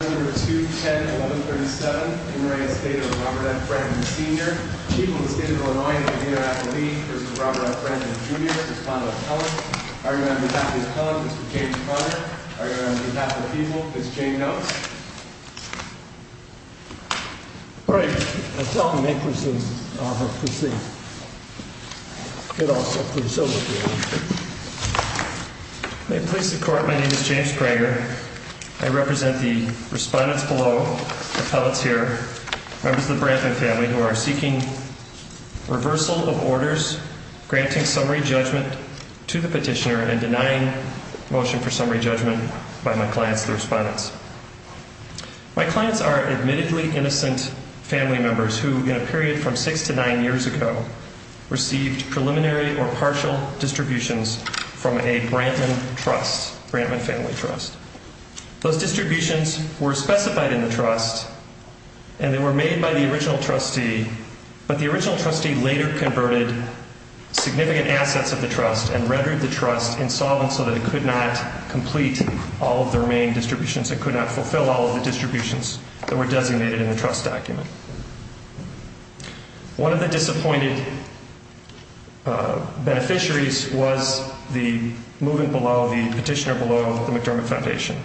210-1137 Emory Estate of Robert F. Brantman Sr. People of the State of Illinois and the Indianapolis This is Robert F. Brantman Jr. This is Pondell Kellogg. Argument on behalf of Mr. Kellogg, Mr. James Pryor. Argument on behalf of the people, Ms. Jane Knowles. All right. Let's help him make his seat. May it please the Court, my name is James Pryor. I represent the respondents below, appellates here, members of the Brantman family who are seeking reversal of orders, granting summary judgment to the petitioner and denying motion for summary judgment by my clients, the respondents. My clients are admittedly innocent family members who, in a period from six to nine years ago, received preliminary or partial distributions from a Brantman trust, Brantman family trust. Those distributions were specified in the trust and they were made by the original trustee. But the original trustee later converted significant assets of the trust and rendered the trust insolvent so that it could not complete all of their main distributions. It could not fulfill all of the distributions that were designated in the trust document. One of the disappointed beneficiaries was the moving below, the petitioner below the McDermott Foundation.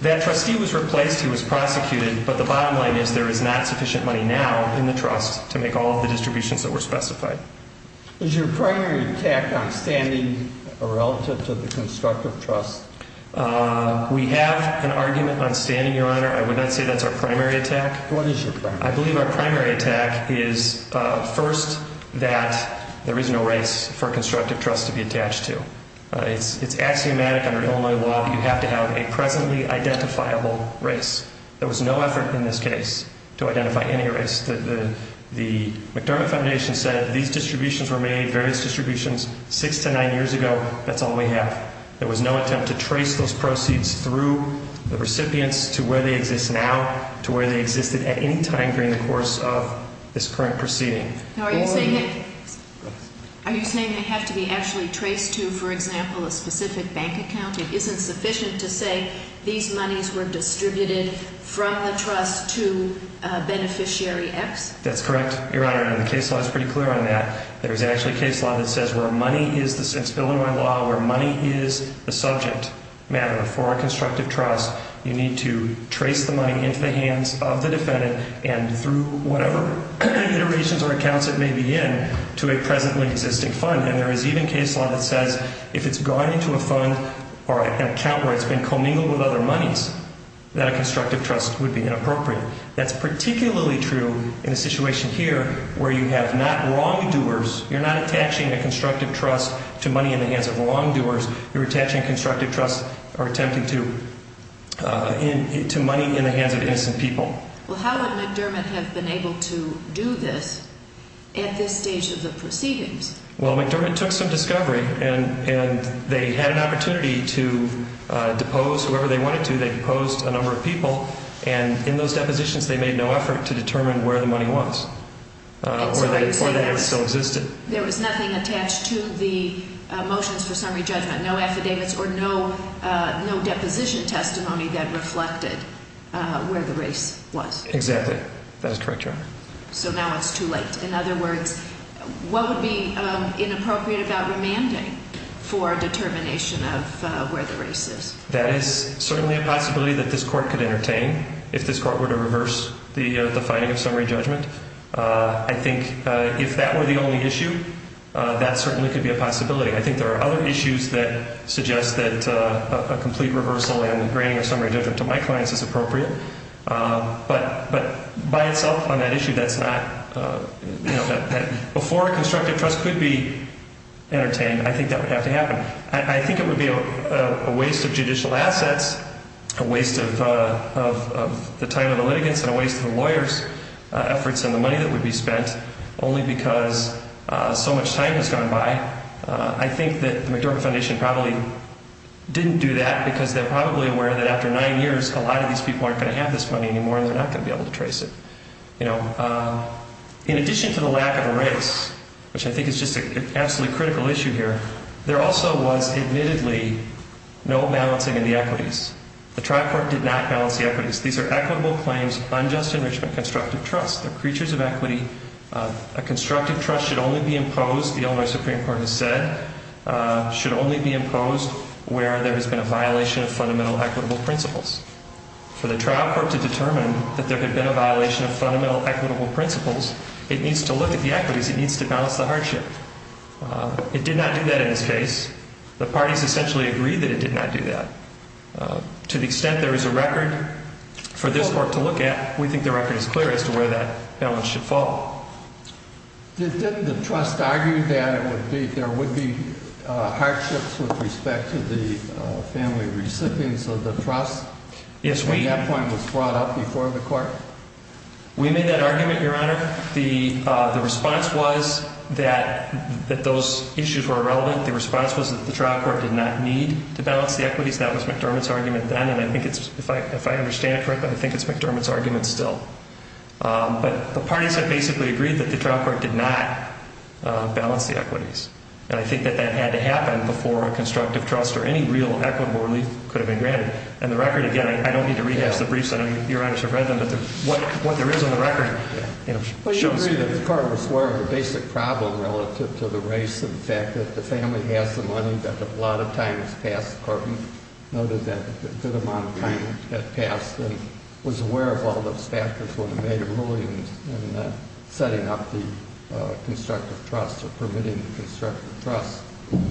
That trustee was replaced, he was prosecuted, but the bottom line is there is not sufficient money now in the trust to make all of the distributions that were specified. Is your primary attack on standing a relative to the constructive trust? We have an argument on standing, Your Honor. I would not say that's our primary attack. What is your primary attack? I believe our primary attack is, first, that there is no race for constructive trust to be attached to. It's axiomatic under Illinois law that you have to have a presently identifiable race. There was no effort in this case to identify any race. The McDermott Foundation said these distributions were made, various distributions, six to nine years ago, that's all we have. There was no attempt to trace those proceeds through the recipients to where they exist now, to where they existed at any time during the course of this current proceeding. Are you saying they have to be actually traced to, for example, a specific bank account? It isn't sufficient to say these monies were distributed from the trust to beneficiary X? That's correct, Your Honor. The case law is pretty clear on that. There is actually case law that says where money is, since Illinois law, where money is the subject matter for a constructive trust, you need to trace the money into the hands of the defendant and through whatever iterations or accounts it may be in to a presently existing fund. And there is even case law that says if it's gone into a fund or an account where it's been commingled with other monies, that a constructive trust would be inappropriate. That's particularly true in a situation here where you have not wrongdoers. You're not attaching a constructive trust to money in the hands of wrongdoers. You're attaching a constructive trust or attempting to money in the hands of innocent people. Well, how would McDermott have been able to do this at this stage of the proceedings? Well, McDermott took some discovery and they had an opportunity to depose whoever they wanted to. They deposed a number of people, and in those depositions they made no effort to determine where the money was or that it still existed. There was nothing attached to the motions for summary judgment, no affidavits or no deposition testimony that reflected where the race was. Exactly. That is correct, Your Honor. So now it's too late. In other words, what would be inappropriate about remanding for determination of where the race is? That is certainly a possibility that this court could entertain if this court were to reverse the finding of summary judgment. I think if that were the only issue, that certainly could be a possibility. I think there are other issues that suggest that a complete reversal and granting of summary judgment to my clients is appropriate. But by itself on that issue, that's not – before a constructive trust could be entertained, I think that would have to happen. I think it would be a waste of judicial assets, a waste of the time of the litigants, and a waste of the lawyers' efforts and the money that would be spent only because so much time has gone by. I think that the McDermott Foundation probably didn't do that because they're probably aware that after nine years, a lot of these people aren't going to have this money anymore and they're not going to be able to trace it. In addition to the lack of a race, which I think is just an absolutely critical issue here, there also was admittedly no balancing of the equities. The trial court did not balance the equities. These are equitable claims, unjust enrichment, constructive trust. They're creatures of equity. A constructive trust should only be imposed, the Illinois Supreme Court has said, should only be imposed where there has been a violation of fundamental equitable principles. For the trial court to determine that there had been a violation of fundamental equitable principles, it needs to look at the equities, it needs to balance the hardship. It did not do that in this case. The parties essentially agreed that it did not do that. To the extent there is a record for this court to look at, we think the record is clear as to where that balance should fall. Didn't the trust argue that there would be hardships with respect to the family recipients of the trust? Yes, we... And that point was brought up before the court? We made that argument, Your Honor. The response was that those issues were irrelevant. The response was that the trial court did not need to balance the equities. That was McDermott's argument then, and I think it's, if I understand it correctly, I think it's McDermott's argument still. But the parties have basically agreed that the trial court did not balance the equities. And I think that that had to happen before a constructive trust or any real equitable relief could have been granted. And the record, again, I don't need to read out the briefs, Your Honor should have read them, but what there is on the record shows... I agree that the court was aware of the basic problem relative to the race and the fact that the family has the money that a lot of times passed the court and noted that a good amount of time had passed and was aware of all those factors when it made a ruling in setting up the constructive trust or permitting the constructive trust.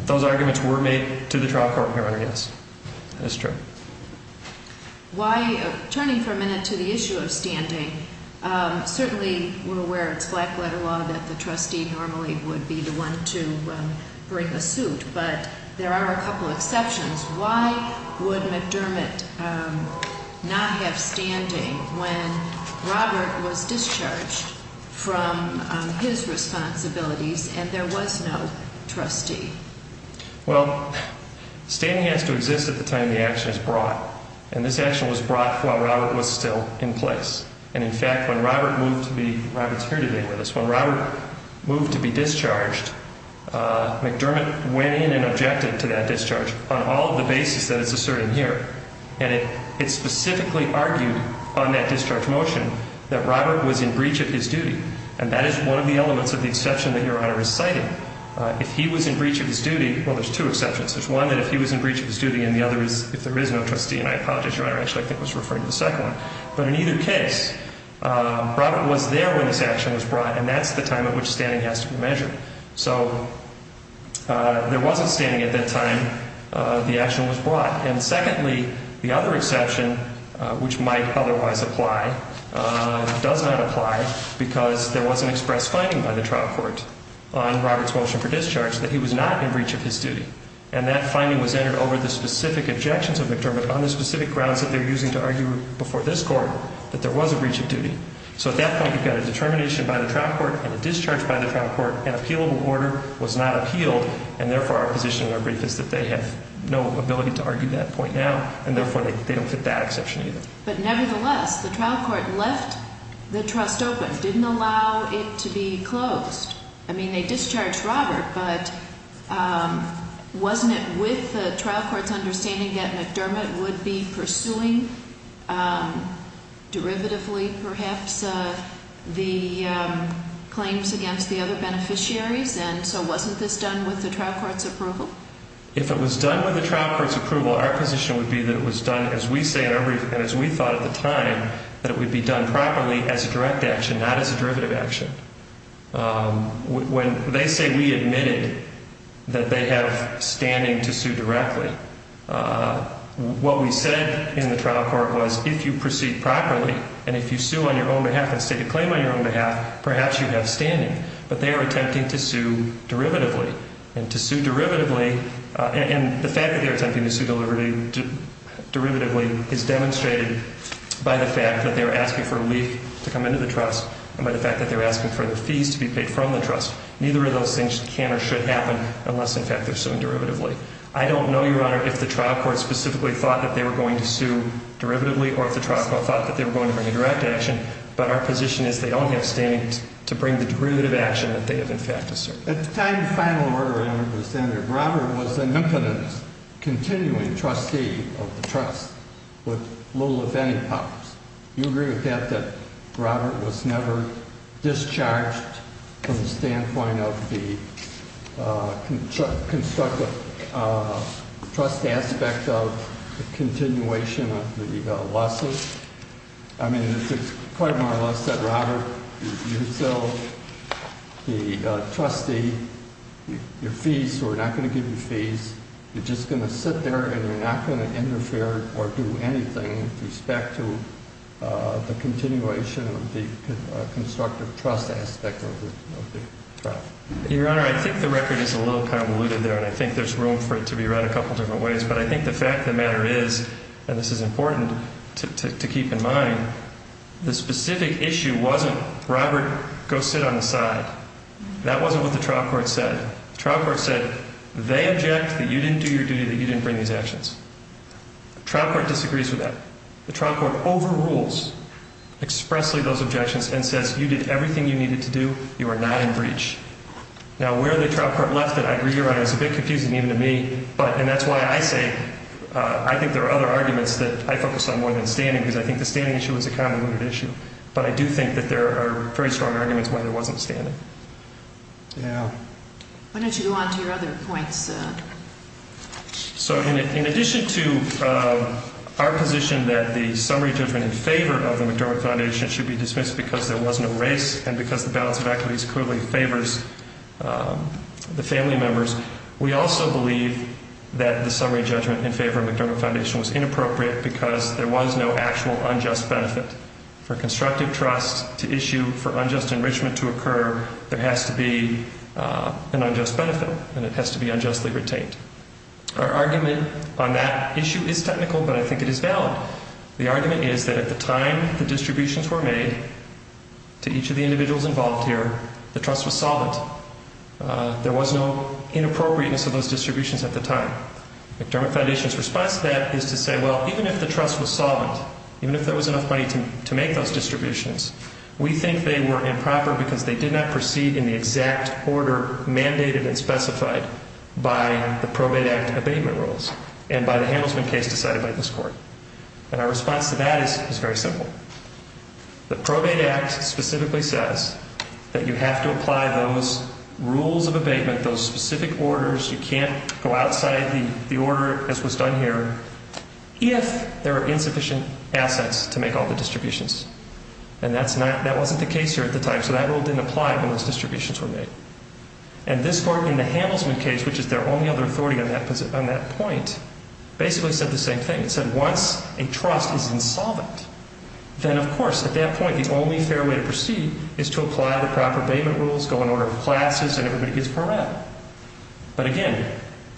Those arguments were made to the trial court, Your Honor, yes. That's true. Turning for a minute to the issue of standing, certainly we're aware it's black letter law that the trustee normally would be the one to bring a suit, but there are a couple exceptions. Why would McDermott not have standing when Robert was discharged from his responsibilities and there was no trustee? Well, standing has to exist at the time the action is brought. And this action was brought while Robert was still in place. And, in fact, when Robert moved to be... Robert's here today with us. When Robert moved to be discharged, McDermott went in and objected to that discharge on all of the basis that it's asserted here. And it specifically argued on that discharge motion that Robert was in breach of his duty. And that is one of the elements of the exception that Your Honor is citing. If he was in breach of his duty, well, there's two exceptions. There's one that if he was in breach of his duty and the other is if there is no trustee. And I apologize, Your Honor, I actually think I was referring to the second one. But in either case, Robert was there when this action was brought, and that's the time at which standing has to be measured. So there wasn't standing at that time the action was brought. And secondly, the other exception, which might otherwise apply, does not apply because there was an express finding by the trial court on Robert's motion for discharge that he was not in breach of his duty. And that finding was entered over the specific objections of McDermott on the specific grounds that they're using to argue before this Court that there was a breach of duty. So at that point, you've got a determination by the trial court and a discharge by the trial court. An appealable order was not appealed, and therefore our position in our brief is that they have no ability to argue that point now, and therefore they don't fit that exception either. But nevertheless, the trial court left the trust open, didn't allow it to be closed. I mean, they discharged Robert, but wasn't it with the trial court's understanding that McDermott would be pursuing derivatively, perhaps, the claims against the other beneficiaries? And so wasn't this done with the trial court's approval? If it was done with the trial court's approval, our position would be that it was done, as we say in our brief and as we thought at the time, that it would be done properly as a direct action, not as a derivative action. When they say we admitted that they have standing to sue directly, what we said in the trial court was if you proceed properly and if you sue on your own behalf and stake a claim on your own behalf, perhaps you have standing. But they are attempting to sue derivatively, and to sue derivatively, and the fact that they're attempting to sue derivatively is demonstrated by the fact that they're asking for a leak to come into the trust and by the fact that they're asking for the fees to be paid from the trust. Neither of those things can or should happen unless, in fact, they're suing derivatively. I don't know, Your Honor, if the trial court specifically thought that they were going to sue derivatively or if the trial court thought that they were going to bring a direct action, but our position is they don't have standing to bring the derivative action that they have, in fact, asserted. At the time the final order entered the Senate, Robert was an impotent continuing trustee of the trust with little if any powers. Do you agree with that, that Robert was never discharged from the standpoint of the constructive trust aspect of the continuation of the lawsuit? Your Honor, I think the record is a little convoluted there, and I think there's room for it to be read a couple different ways, but I think the fact of the matter is, and this is important to keep in mind, is that Robert was never discharged from the standpoint of the constructive trust aspect of the lawsuit. To keep in mind, the specific issue wasn't Robert, go sit on the side. That wasn't what the trial court said. The trial court said they object that you didn't do your duty, that you didn't bring these actions. The trial court disagrees with that. The trial court overrules expressly those objections and says you did everything you needed to do. You are not in breach. Now, where the trial court left it, I agree, Your Honor, is a bit confusing even to me, and that's why I say I think there are other arguments that I focus on more than standing. Because I think the standing issue is a convoluted issue. But I do think that there are very strong arguments why there wasn't standing. Yeah. Why don't you go on to your other points? So in addition to our position that the summary judgment in favor of the McDermott Foundation should be dismissed because there was no race and because the balance of equities clearly favors the family members, we also believe that the summary judgment in favor of the McDermott Foundation was inappropriate because there was no actual unjust benefit. For constructive trust to issue, for unjust enrichment to occur, there has to be an unjust benefit, and it has to be unjustly retained. Our argument on that issue is technical, but I think it is valid. The argument is that at the time the distributions were made to each of the individuals involved here, the trust was solvent. There was no inappropriateness of those distributions at the time. McDermott Foundation's response to that is to say, well, even if the trust was solvent, even if there was enough money to make those distributions, we think they were improper because they did not proceed in the exact order mandated and specified by the Probate Act abatement rules and by the Hamilton case decided by this court. And our response to that is very simple. The Probate Act specifically says that you have to apply those rules of abatement, those specific orders. You can't go outside the order as was done here if there are insufficient assets to make all the distributions. And that wasn't the case here at the time, so that rule didn't apply when those distributions were made. And this court in the Hamilton case, which is their only other authority on that point, basically said the same thing. It said once a trust is insolvent, then of course at that point the only fair way to proceed is to apply the proper abatement rules, go in order of classes, and everybody gets paroled. But again,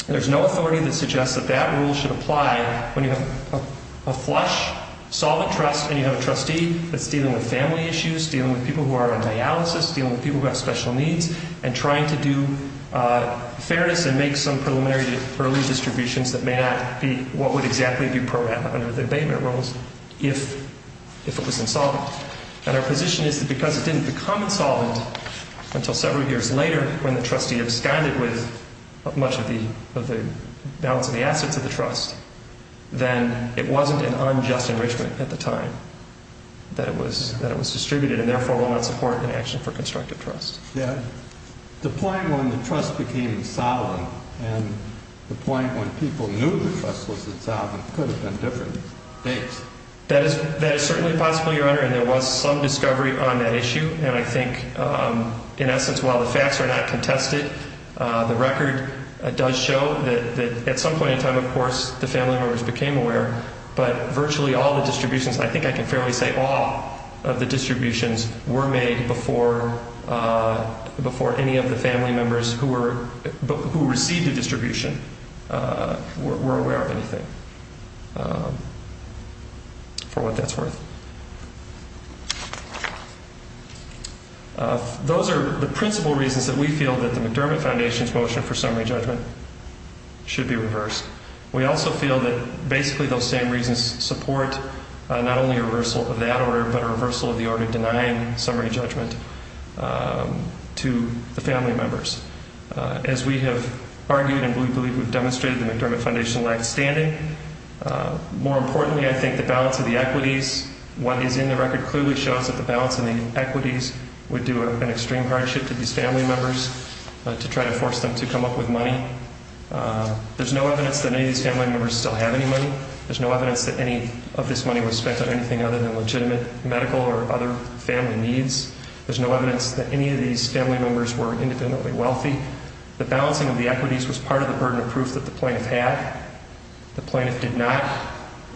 there's no authority that suggests that that rule should apply when you have a flush, solvent trust, and you have a trustee that's dealing with family issues, dealing with people who are on dialysis, dealing with people who have special needs, and trying to do fairness and make some preliminary early distributions that may not be what would exactly be programed under the abatement rules if it was insolvent. And our position is that because it didn't become insolvent until several years later when the trustee absconded with much of the balance of the assets of the trust, then it wasn't an unjust enrichment at the time that it was distributed and therefore will not support an action for constructive trust. The point when the trust became insolvent and the point when people knew the trust was insolvent could have been different dates. That is certainly possible, Your Honor, and there was some discovery on that issue. And I think in essence, while the facts are not contested, the record does show that at some point in time, of course, the family members became aware, but virtually all the distributions, I think I can fairly say all of the distributions were made before any of the family members who received the distribution were aware of anything, for what that's worth. Those are the principal reasons that we feel that the McDermott Foundation's motion for summary judgment should be reversed. We also feel that basically those same reasons support not only a reversal of that order, but a reversal of the order denying summary judgment to the family members. As we have argued and we believe we've demonstrated, the McDermott Foundation lacks standing. More importantly, I think the balance of the equities, what is in the record clearly shows that the balance of the equities would do an extreme hardship to these family members to try to force them to come up with money. There's no evidence that any of these family members still have any money. There's no evidence that any of this money was spent on anything other than legitimate medical or other family needs. There's no evidence that any of these family members were independently wealthy. The balancing of the equities was part of the burden of proof that the plaintiff had. The plaintiff did not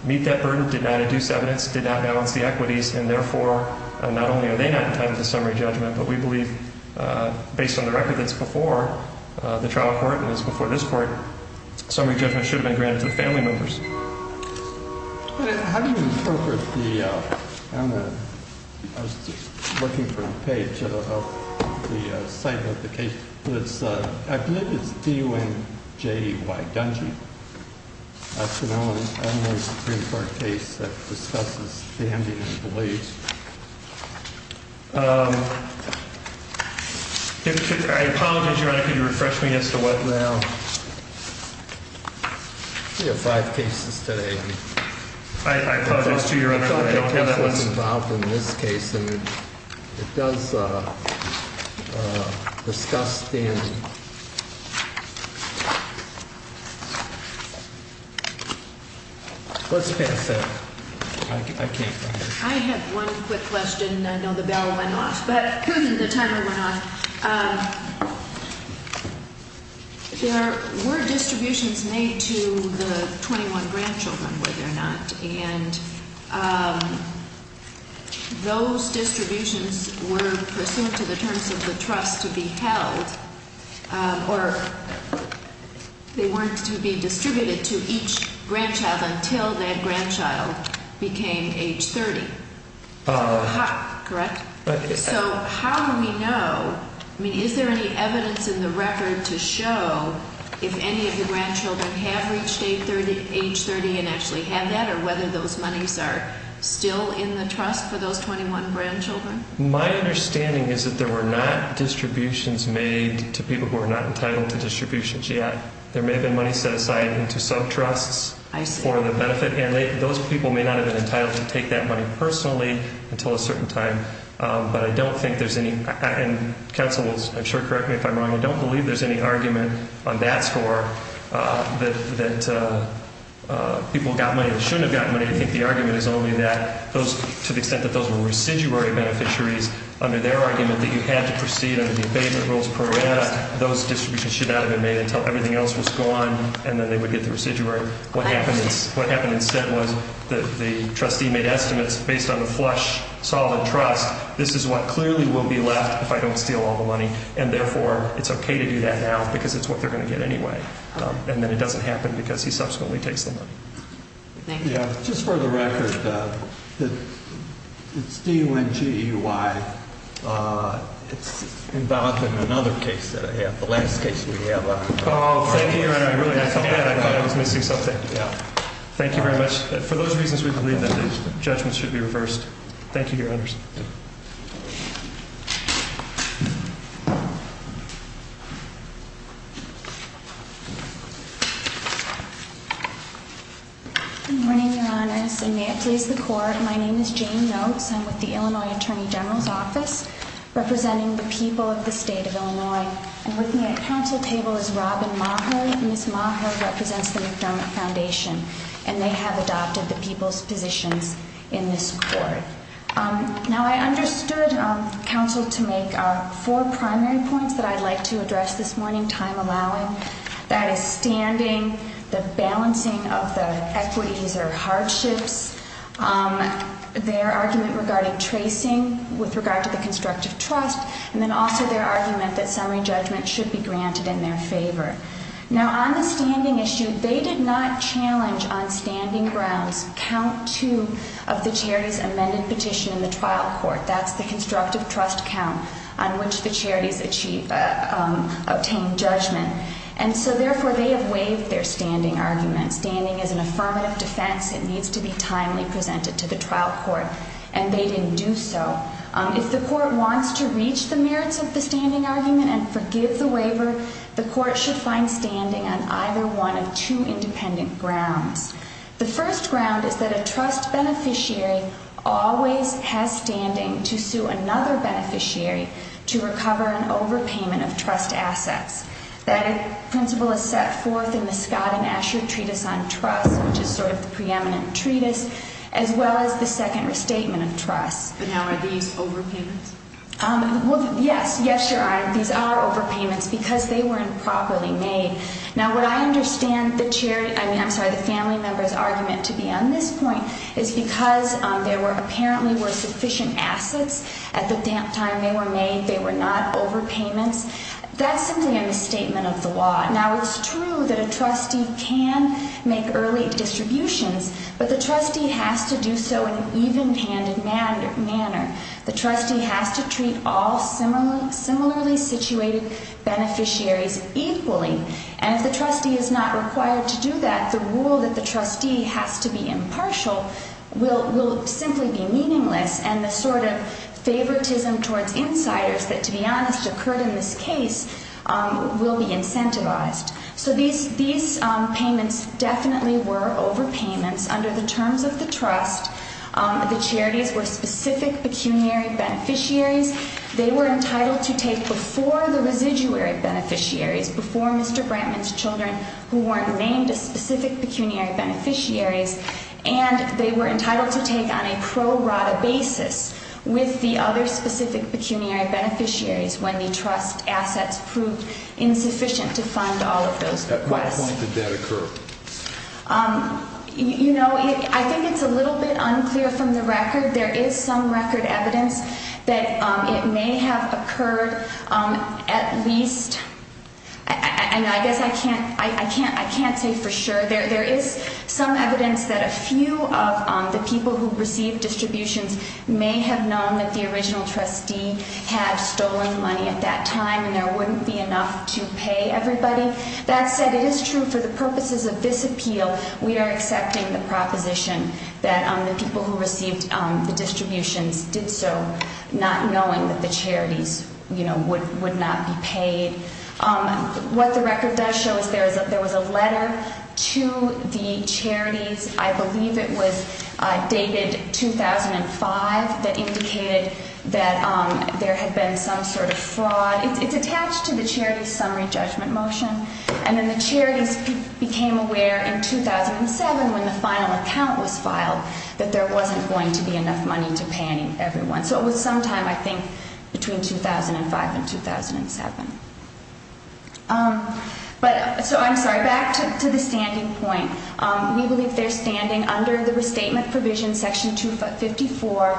meet that burden, did not induce evidence, did not balance the equities, and therefore, not only are they not entitled to summary judgment, but we believe based on the record that's before the trial court and is before this court, summary judgment should have been granted to the family members. How do you interpret the, I don't know, I was just looking for a page of the site of the case. I believe it's D-U-N-J-E-Y-D-U-N-G. That's an Illinois Supreme Court case that discusses standing and beliefs. I apologize, Your Honor, could you refresh me as to what now? We have five cases today. I apologize to you, Your Honor, I don't have that one. This case, it does discuss standing. Let's pass that. I have one quick question. I know the bell went off, but the timer went off. There were distributions made to the 21 grandchildren, were there not? And those distributions were pursuant to the terms of the trust to be held, or they weren't to be distributed to each grandchild until that grandchild became age 30. Correct? Correct. So how do we know, I mean, is there any evidence in the record to show if any of the grandchildren have reached age 30 and actually have that, or whether those monies are still in the trust for those 21 grandchildren? My understanding is that there were not distributions made to people who were not entitled to distributions yet. There may have been money set aside into sub-trusts for the benefit. And those people may not have been entitled to take that money personally until a certain time. But I don't think there's any, and counsel will, I'm sure, correct me if I'm wrong, I don't believe there's any argument on that score that people got money that shouldn't have gotten money. I think the argument is only that those, to the extent that those were residuary beneficiaries, under their argument that you had to proceed under the abatement rules program, those distributions should not have been made until everything else was gone and then they would get the residuary. What happened instead was the trustee made estimates based on the flush, solid trust. This is what clearly will be left if I don't steal all the money. And therefore, it's okay to do that now because it's what they're going to get anyway. And then it doesn't happen because he subsequently takes the money. Thank you. Just for the record, it's D-U-N-G-E-Y. It's involved in another case that I have, the last case we have. Thank you very much for those reasons. We believe that these judgments should be reversed. Thank you. Your honors. Good morning. May it please the court. My name is Jane notes. I'm with the Illinois Attorney General's Office, representing the people of the state of Illinois. And with me at council table is Robin Maher. Ms. Maher represents the McDermott Foundation, and they have adopted the people's positions in this court. Now, I understood counsel to make four primary points that I'd like to address this morning, time allowing. That is standing, the balancing of the equities or hardships. Their argument regarding tracing with regard to the constructive trust. And then also their argument that summary judgment should be granted in their favor. Now, on the standing issue, they did not challenge on standing grounds count two of the charities amended petition in the trial court. That's the constructive trust count on which the charities achieve, obtain judgment. And so, therefore, they have waived their standing arguments. Standing is an affirmative defense. It needs to be timely presented to the trial court, and they didn't do so. If the court wants to reach the merits of the standing argument and forgive the waiver, the court should find standing on either one of two independent grounds. The first ground is that a trust beneficiary always has standing to sue another beneficiary to recover an overpayment of trust assets. That principle is set forth in the Scott and Asher Treatise on Trust, which is sort of the preeminent treatise, as well as the second restatement of trust. But now are these overpayments? Well, yes. Yes, Your Honor. These are overpayments because they were improperly made. Now, what I understand the charity, I mean, I'm sorry, the family member's argument to be on this point is because there were apparently were sufficient assets at the time they were made. They were not overpayments. That's simply a misstatement of the law. Now, it's true that a trustee can make early distributions, but the trustee has to do so in an even-handed manner. The trustee has to treat all similarly situated beneficiaries equally. And if the trustee is not required to do that, the rule that the trustee has to be impartial will simply be meaningless, and the sort of favoritism towards insiders that, to be honest, occurred in this case will be incentivized. So these payments definitely were overpayments under the terms of the trust. The charities were specific pecuniary beneficiaries. They were entitled to take before the residuary beneficiaries, before Mr. Brantman's children who weren't named as specific pecuniary beneficiaries, and they were entitled to take on a pro rata basis with the other specific pecuniary beneficiaries when the trust assets proved insufficient to fund all of those requests. At what point did that occur? You know, I think it's a little bit unclear from the record. There is some record evidence that it may have occurred at least, and I guess I can't say for sure. There is some evidence that a few of the people who received distributions may have known that the original trustee had stolen money at that time, and there wouldn't be enough to pay everybody. That said, it is true for the purposes of this appeal we are accepting the proposition that the people who received the distributions did so not knowing that the charities, you know, would not be paid. What the record does show is there was a letter to the charities. I believe it was dated 2005 that indicated that there had been some sort of fraud. It's attached to the charity's summary judgment motion, and then the charities became aware in 2007 when the final account was filed that there wasn't going to be enough money to pay everyone. So it was sometime, I think, between 2005 and 2007. So I'm sorry. Back to the standing point. We believe they're standing under the restatement provision, section 254.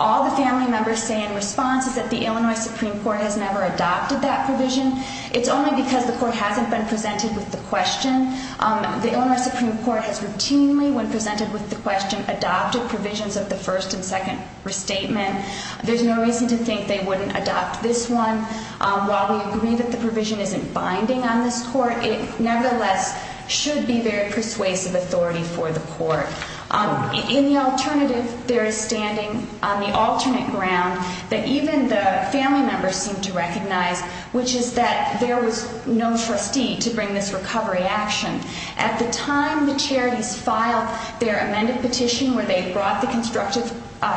All the family members say in response is that the Illinois Supreme Court has never adopted that provision. It's only because the court hasn't been presented with the question. The Illinois Supreme Court has routinely, when presented with the question, adopted provisions of the first and second restatement. There's no reason to think they wouldn't adopt this one. While we agree that the provision isn't binding on this court, it nevertheless should be very persuasive authority for the court. In the alternative, they're standing on the alternate ground that even the family members seem to recognize, which is that there was no trustee to bring this recovery action. At the time the charities filed their amended petition where they brought the constructive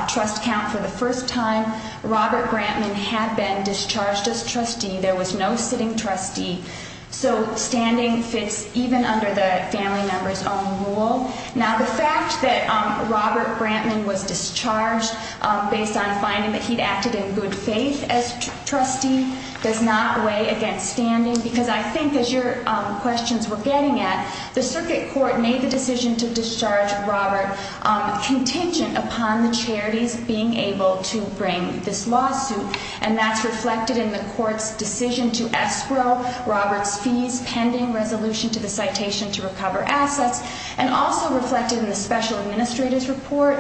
trust account for the first time, Robert Brantman had been discharged as trustee. There was no sitting trustee. So standing fits even under the family member's own rule. Now, the fact that Robert Brantman was discharged based on finding that he'd acted in good faith as trustee does not weigh against standing. Because I think, as your questions were getting at, the circuit court made the decision to discharge Robert contingent upon the charities being able to bring this lawsuit. And that's reflected in the court's decision to escrow Robert's fees pending resolution to the citation to recover assets. And also reflected in the special administrator's report,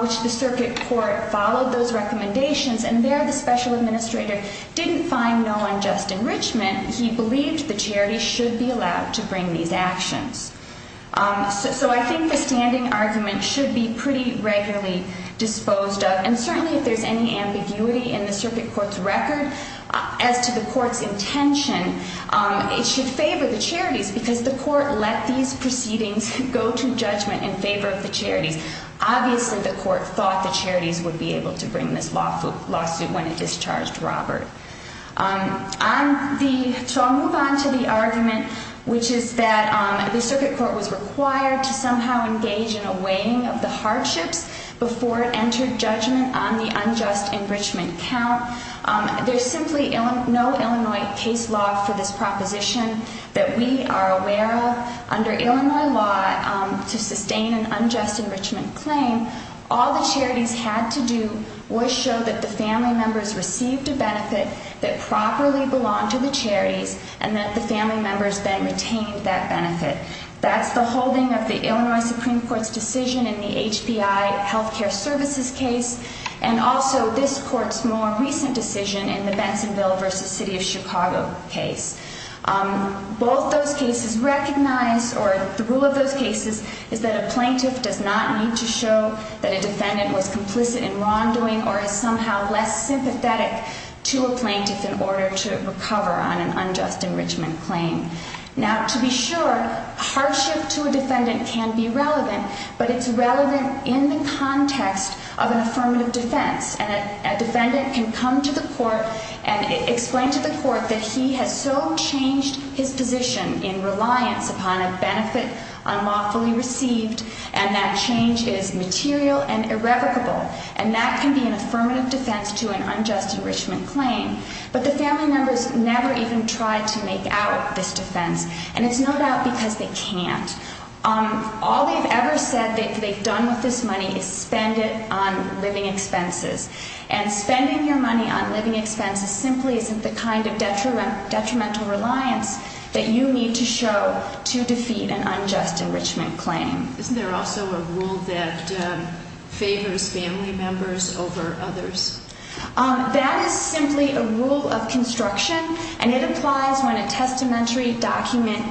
which the circuit court followed those recommendations. And there the special administrator didn't find no unjust enrichment. He believed the charities should be allowed to bring these actions. So I think the standing argument should be pretty regularly disposed of. And certainly, if there's any ambiguity in the circuit court's record as to the court's intention, it should favor the charities. Because the court let these proceedings go to judgment in favor of the charities. Obviously, the court thought the charities would be able to bring this lawsuit when it discharged Robert. So I'll move on to the argument, which is that the circuit court was required to somehow engage in a weighing of the hardships before it entered judgment on the unjust enrichment count. There's simply no Illinois case law for this proposition that we are aware of. Under Illinois law, to sustain an unjust enrichment claim, all the charities had to do was show that the family members received a benefit that properly belonged to the charities. And that the family members then retained that benefit. That's the holding of the Illinois Supreme Court's decision in the HBI health care services case. And also this court's more recent decision in the Bensonville v. City of Chicago case. Both those cases recognize, or the rule of those cases, is that a plaintiff does not need to show that a defendant was complicit in wrongdoing or is somehow less sympathetic to a plaintiff in order to recover on an unjust enrichment claim. Now, to be sure, hardship to a defendant can be relevant. But it's relevant in the context of an affirmative defense. And a defendant can come to the court and explain to the court that he has so changed his position in reliance upon a benefit unlawfully received and that change is material and irrevocable. And that can be an affirmative defense to an unjust enrichment claim. But the family members never even tried to make out this defense. And it's no doubt because they can't. All they've ever said they've done with this money is spend it on living expenses. And spending your money on living expenses simply isn't the kind of detrimental reliance that you need to show to defeat an unjust enrichment claim. Isn't there also a rule that favors family members over others? That is simply a rule of construction. And it applies when a testamentary document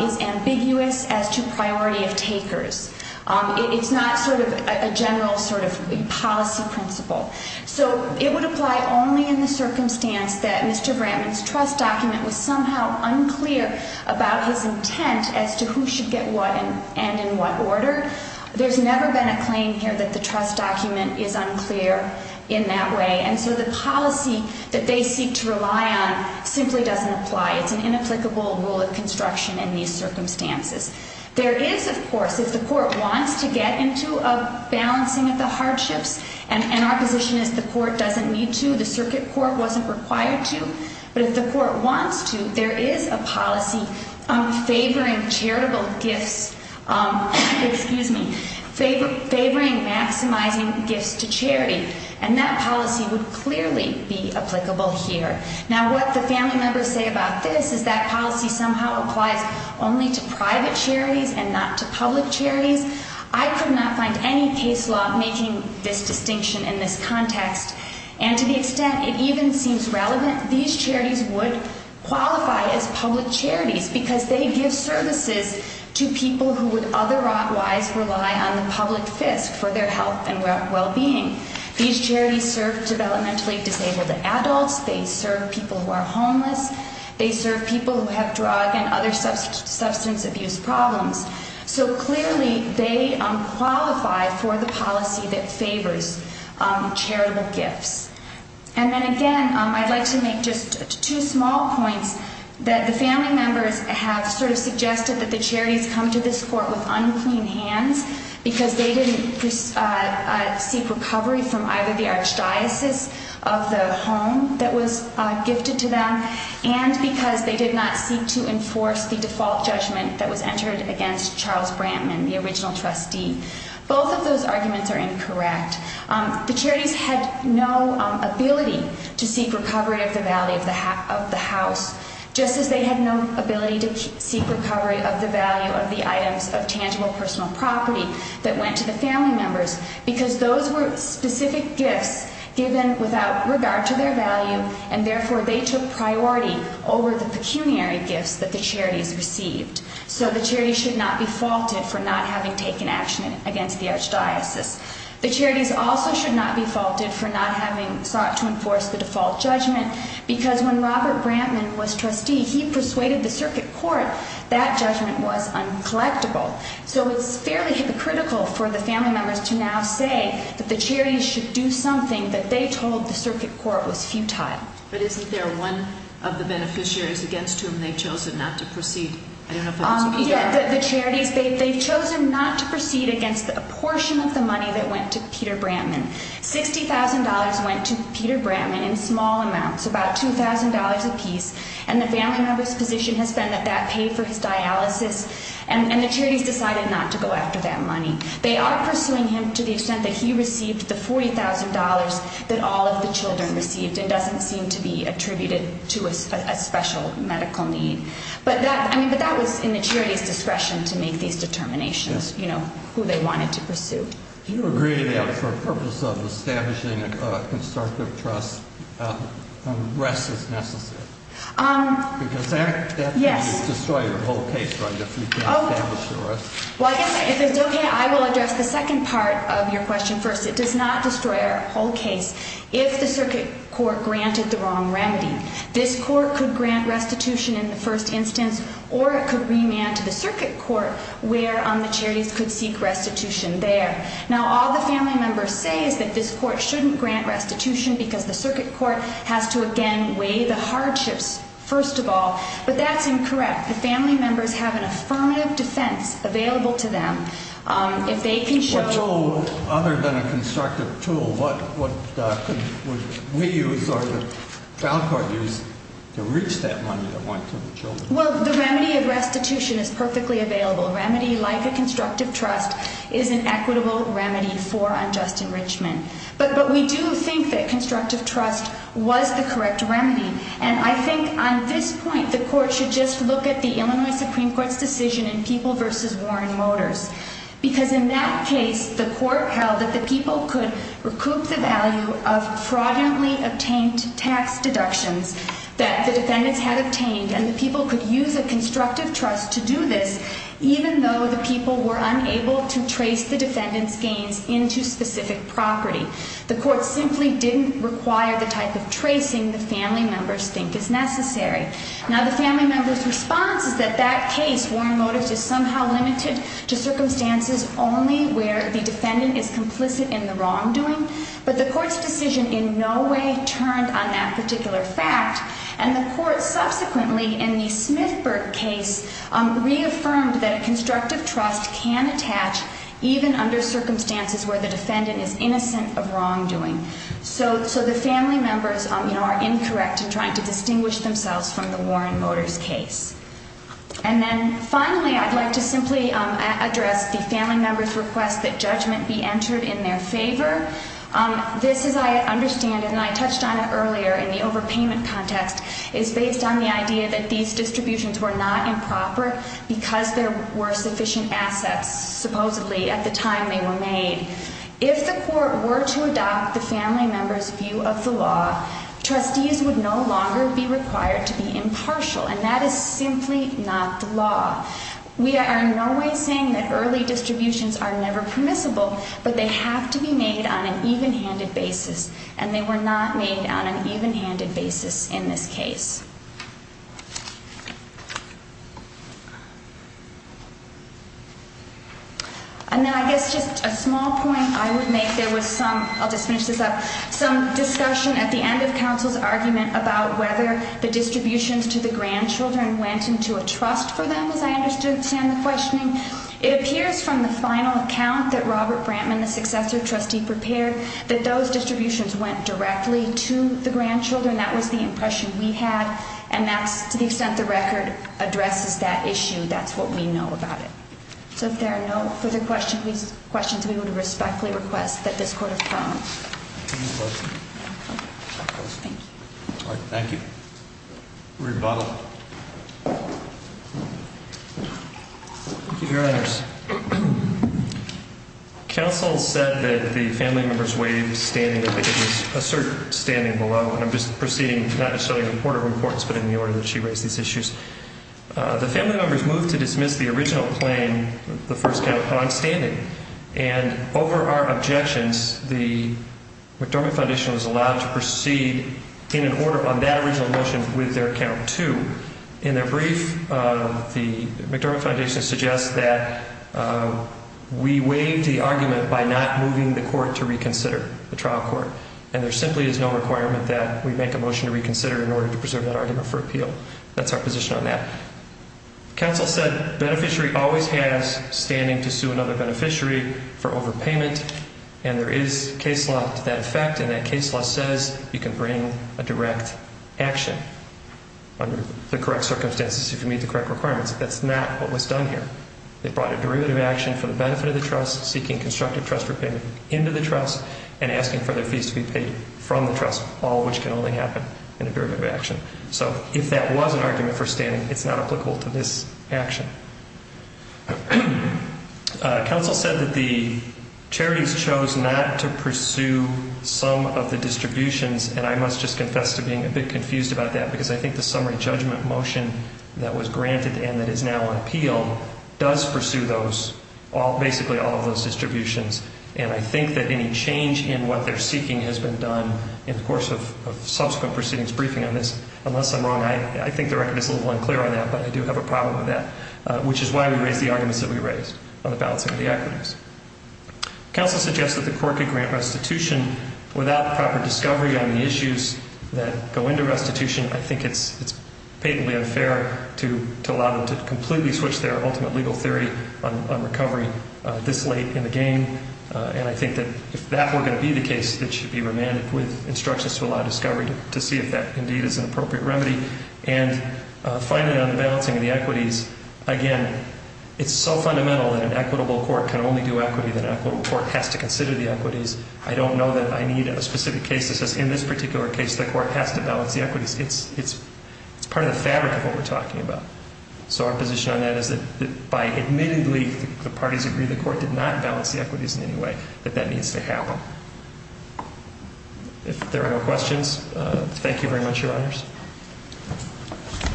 is ambiguous as to priority of takers. It's not sort of a general sort of policy principle. So it would apply only in the circumstance that Mr. Brantman's trust document was somehow unclear about his intent as to who should get what and in what order. There's never been a claim here that the trust document is unclear in that way. And so the policy that they seek to rely on simply doesn't apply. It's an inapplicable rule of construction in these circumstances. There is, of course, if the court wants to get into a balancing of the hardships, and our position is the court doesn't need to. The circuit court wasn't required to. But if the court wants to, there is a policy favoring charitable gifts, excuse me, favoring maximizing gifts to charity. And that policy would clearly be applicable here. Now, what the family members say about this is that policy somehow applies only to private charities and not to public charities. I could not find any case law making this distinction in this context. And to the extent it even seems relevant, these charities would qualify as public charities because they give services to people who would otherwise rely on the public fisc for their health and well-being. These charities serve developmentally disabled adults. They serve people who are homeless. They serve people who have drug and other substance abuse problems. So clearly, they qualify for the policy that favors charitable gifts. And then again, I'd like to make just two small points that the family members have sort of suggested that the charities come to this court with unclean hands because they didn't seek recovery from either the archdiocese of the home that was gifted to them and because they did not seek to enforce the default judgment that was entered against Charles Brantman, the original trustee. Both of those arguments are incorrect. The charities had no ability to seek recovery of the value of the house just as they had no ability to seek recovery of the value of the items of tangible personal property that went to the family members because those were specific gifts given without regard to their value and therefore they took priority over the pecuniary gifts that the charities received. So the charities should not be faulted for not having taken action against the archdiocese. The charities also should not be faulted for not having sought to enforce the default judgment because when Robert Brantman was trustee, he persuaded the circuit court that judgment was uncollectible. So it's fairly hypocritical for the family members to now say that the charities should do something that they told the circuit court was futile. But isn't there one of the beneficiaries against whom they've chosen not to proceed? Yeah, the charities, they've chosen not to proceed against a portion of the money that went to Peter Brantman. $60,000 went to Peter Brantman in small amounts, about $2,000 apiece, and the family member's position has been that that paid for his dialysis and the charities decided not to go after that money. They are pursuing him to the extent that he received the $40,000 that all of the children received and doesn't seem to be attributed to a special medical need. But that was in the charities' discretion to make these determinations, you know, who they wanted to pursue. Do you agree that for the purpose of establishing a constructive trust, arrest is necessary? Yes. Because that would destroy your whole case, right, if we can't establish the arrest? Well, yes. If it's okay, I will address the second part of your question first. It does not destroy our whole case if the circuit court granted the wrong remedy. This court could grant restitution in the first instance or it could remand to the circuit court where the charities could seek restitution there. Now, all the family members say is that this court shouldn't grant restitution because the circuit court has to, again, weigh the hardships, first of all. But that's incorrect. The family members have an affirmative defense available to them. If they can show... What tool, other than a constructive tool, what would we use or the child court use to reach that money that went to the children? Well, the remedy of restitution is perfectly available. A remedy like a constructive trust is an equitable remedy for unjust enrichment. But we do think that constructive trust was the correct remedy. And I think on this point the court should just look at the Illinois Supreme Court's decision in People v. Warren Motors. Because in that case, the court held that the people could recoup the value of fraudulently obtained tax deductions that the defendants had obtained. And the people could use a constructive trust to do this, even though the people were unable to trace the defendants' gains into specific property. The court simply didn't require the type of tracing the family members think is necessary. Now, the family members' response is that that case, Warren Motors, is somehow limited to circumstances only where the defendant is complicit in the wrongdoing. But the court's decision in no way turned on that particular fact. And the court subsequently, in the Smithburg case, reaffirmed that a constructive trust can attach even under circumstances where the defendant is innocent of wrongdoing. So the family members are incorrect in trying to distinguish themselves from the Warren Motors case. And then finally, I'd like to simply address the family members' request that judgment be entered in their favor. This, as I understand it, and I touched on it earlier in the overpayment context, is based on the idea that these distributions were not improper because there were sufficient assets, supposedly, at the time they were made. If the court were to adopt the family members' view of the law, trustees would no longer be required to be impartial. And that is simply not the law. We are in no way saying that early distributions are never permissible, but they have to be made on an even-handed basis. And they were not made on an even-handed basis in this case. And then I guess just a small point I would make. There was some, I'll just finish this up, some discussion at the end of counsel's argument about whether the distributions to the grandchildren went into a trust for them, as I understand the questioning. It appears from the final account that Robert Brantman, the successor trustee, prepared that those distributions went directly to the grandchildren. That was the impression we had. And that's, to the extent the record addresses that issue, that's what we know about it. So if there are no further questions, we would respectfully request that this court approve. Any questions? Thank you. All right. Thank you. Rebuttal. Thank you, Your Honors. Counsel said that the family members waived standing that they could assert standing below. And I'm just proceeding, not necessarily in a court of reports, but in the order that she raised these issues. The family members moved to dismiss the original claim, the first count, on standing. And over our objections, the McDormand Foundation was allowed to proceed in an order on that original motion with their count two. In their brief, the McDormand Foundation suggests that we waived the argument by not moving the court to reconsider, the trial court. And there simply is no requirement that we make a motion to reconsider in order to preserve that argument for appeal. That's our position on that. Counsel said beneficiary always has standing to sue another beneficiary for overpayment. And there is case law to that effect, and that case law says you can bring a direct action under the correct circumstances if you meet the correct requirements. That's not what was done here. They brought a derivative action for the benefit of the trust, seeking constructive trust repayment into the trust, and asking for their fees to be paid from the trust, all which can only happen in a derivative action. So if that was an argument for standing, it's not applicable to this action. Counsel said that the charities chose not to pursue some of the distributions, and I must just confess to being a bit confused about that, because I think the summary judgment motion that was granted and that is now on appeal does pursue those, basically all of those distributions. And I think that any change in what they're seeking has been done in the course of subsequent proceedings briefing on this. Unless I'm wrong, I think the record is a little unclear on that, but I do have a problem with that, which is why we raised the arguments that we raised on the balancing of the equities. Counsel suggests that the court could grant restitution without proper discovery on the issues that go into restitution. I think it's patently unfair to allow them to completely switch their ultimate legal theory on recovery this late in the game. And I think that if that were going to be the case, it should be remanded with instructions to allow discovery to see if that indeed is an appropriate remedy. And finally on the balancing of the equities, again, it's so fundamental that an equitable court can only do equity that an equitable court has to consider the equities. I don't know that I need a specific case that says in this particular case the court has to balance the equities. It's part of the fabric of what we're talking about. So our position on that is that by admittedly the parties agree the court did not balance the equities in any way, that that needs to happen. If there are no questions, thank you very much, Your Honors.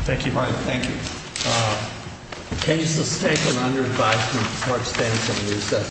Thank you. All right. Thank you. The case is taken under advice from Mark Stanton.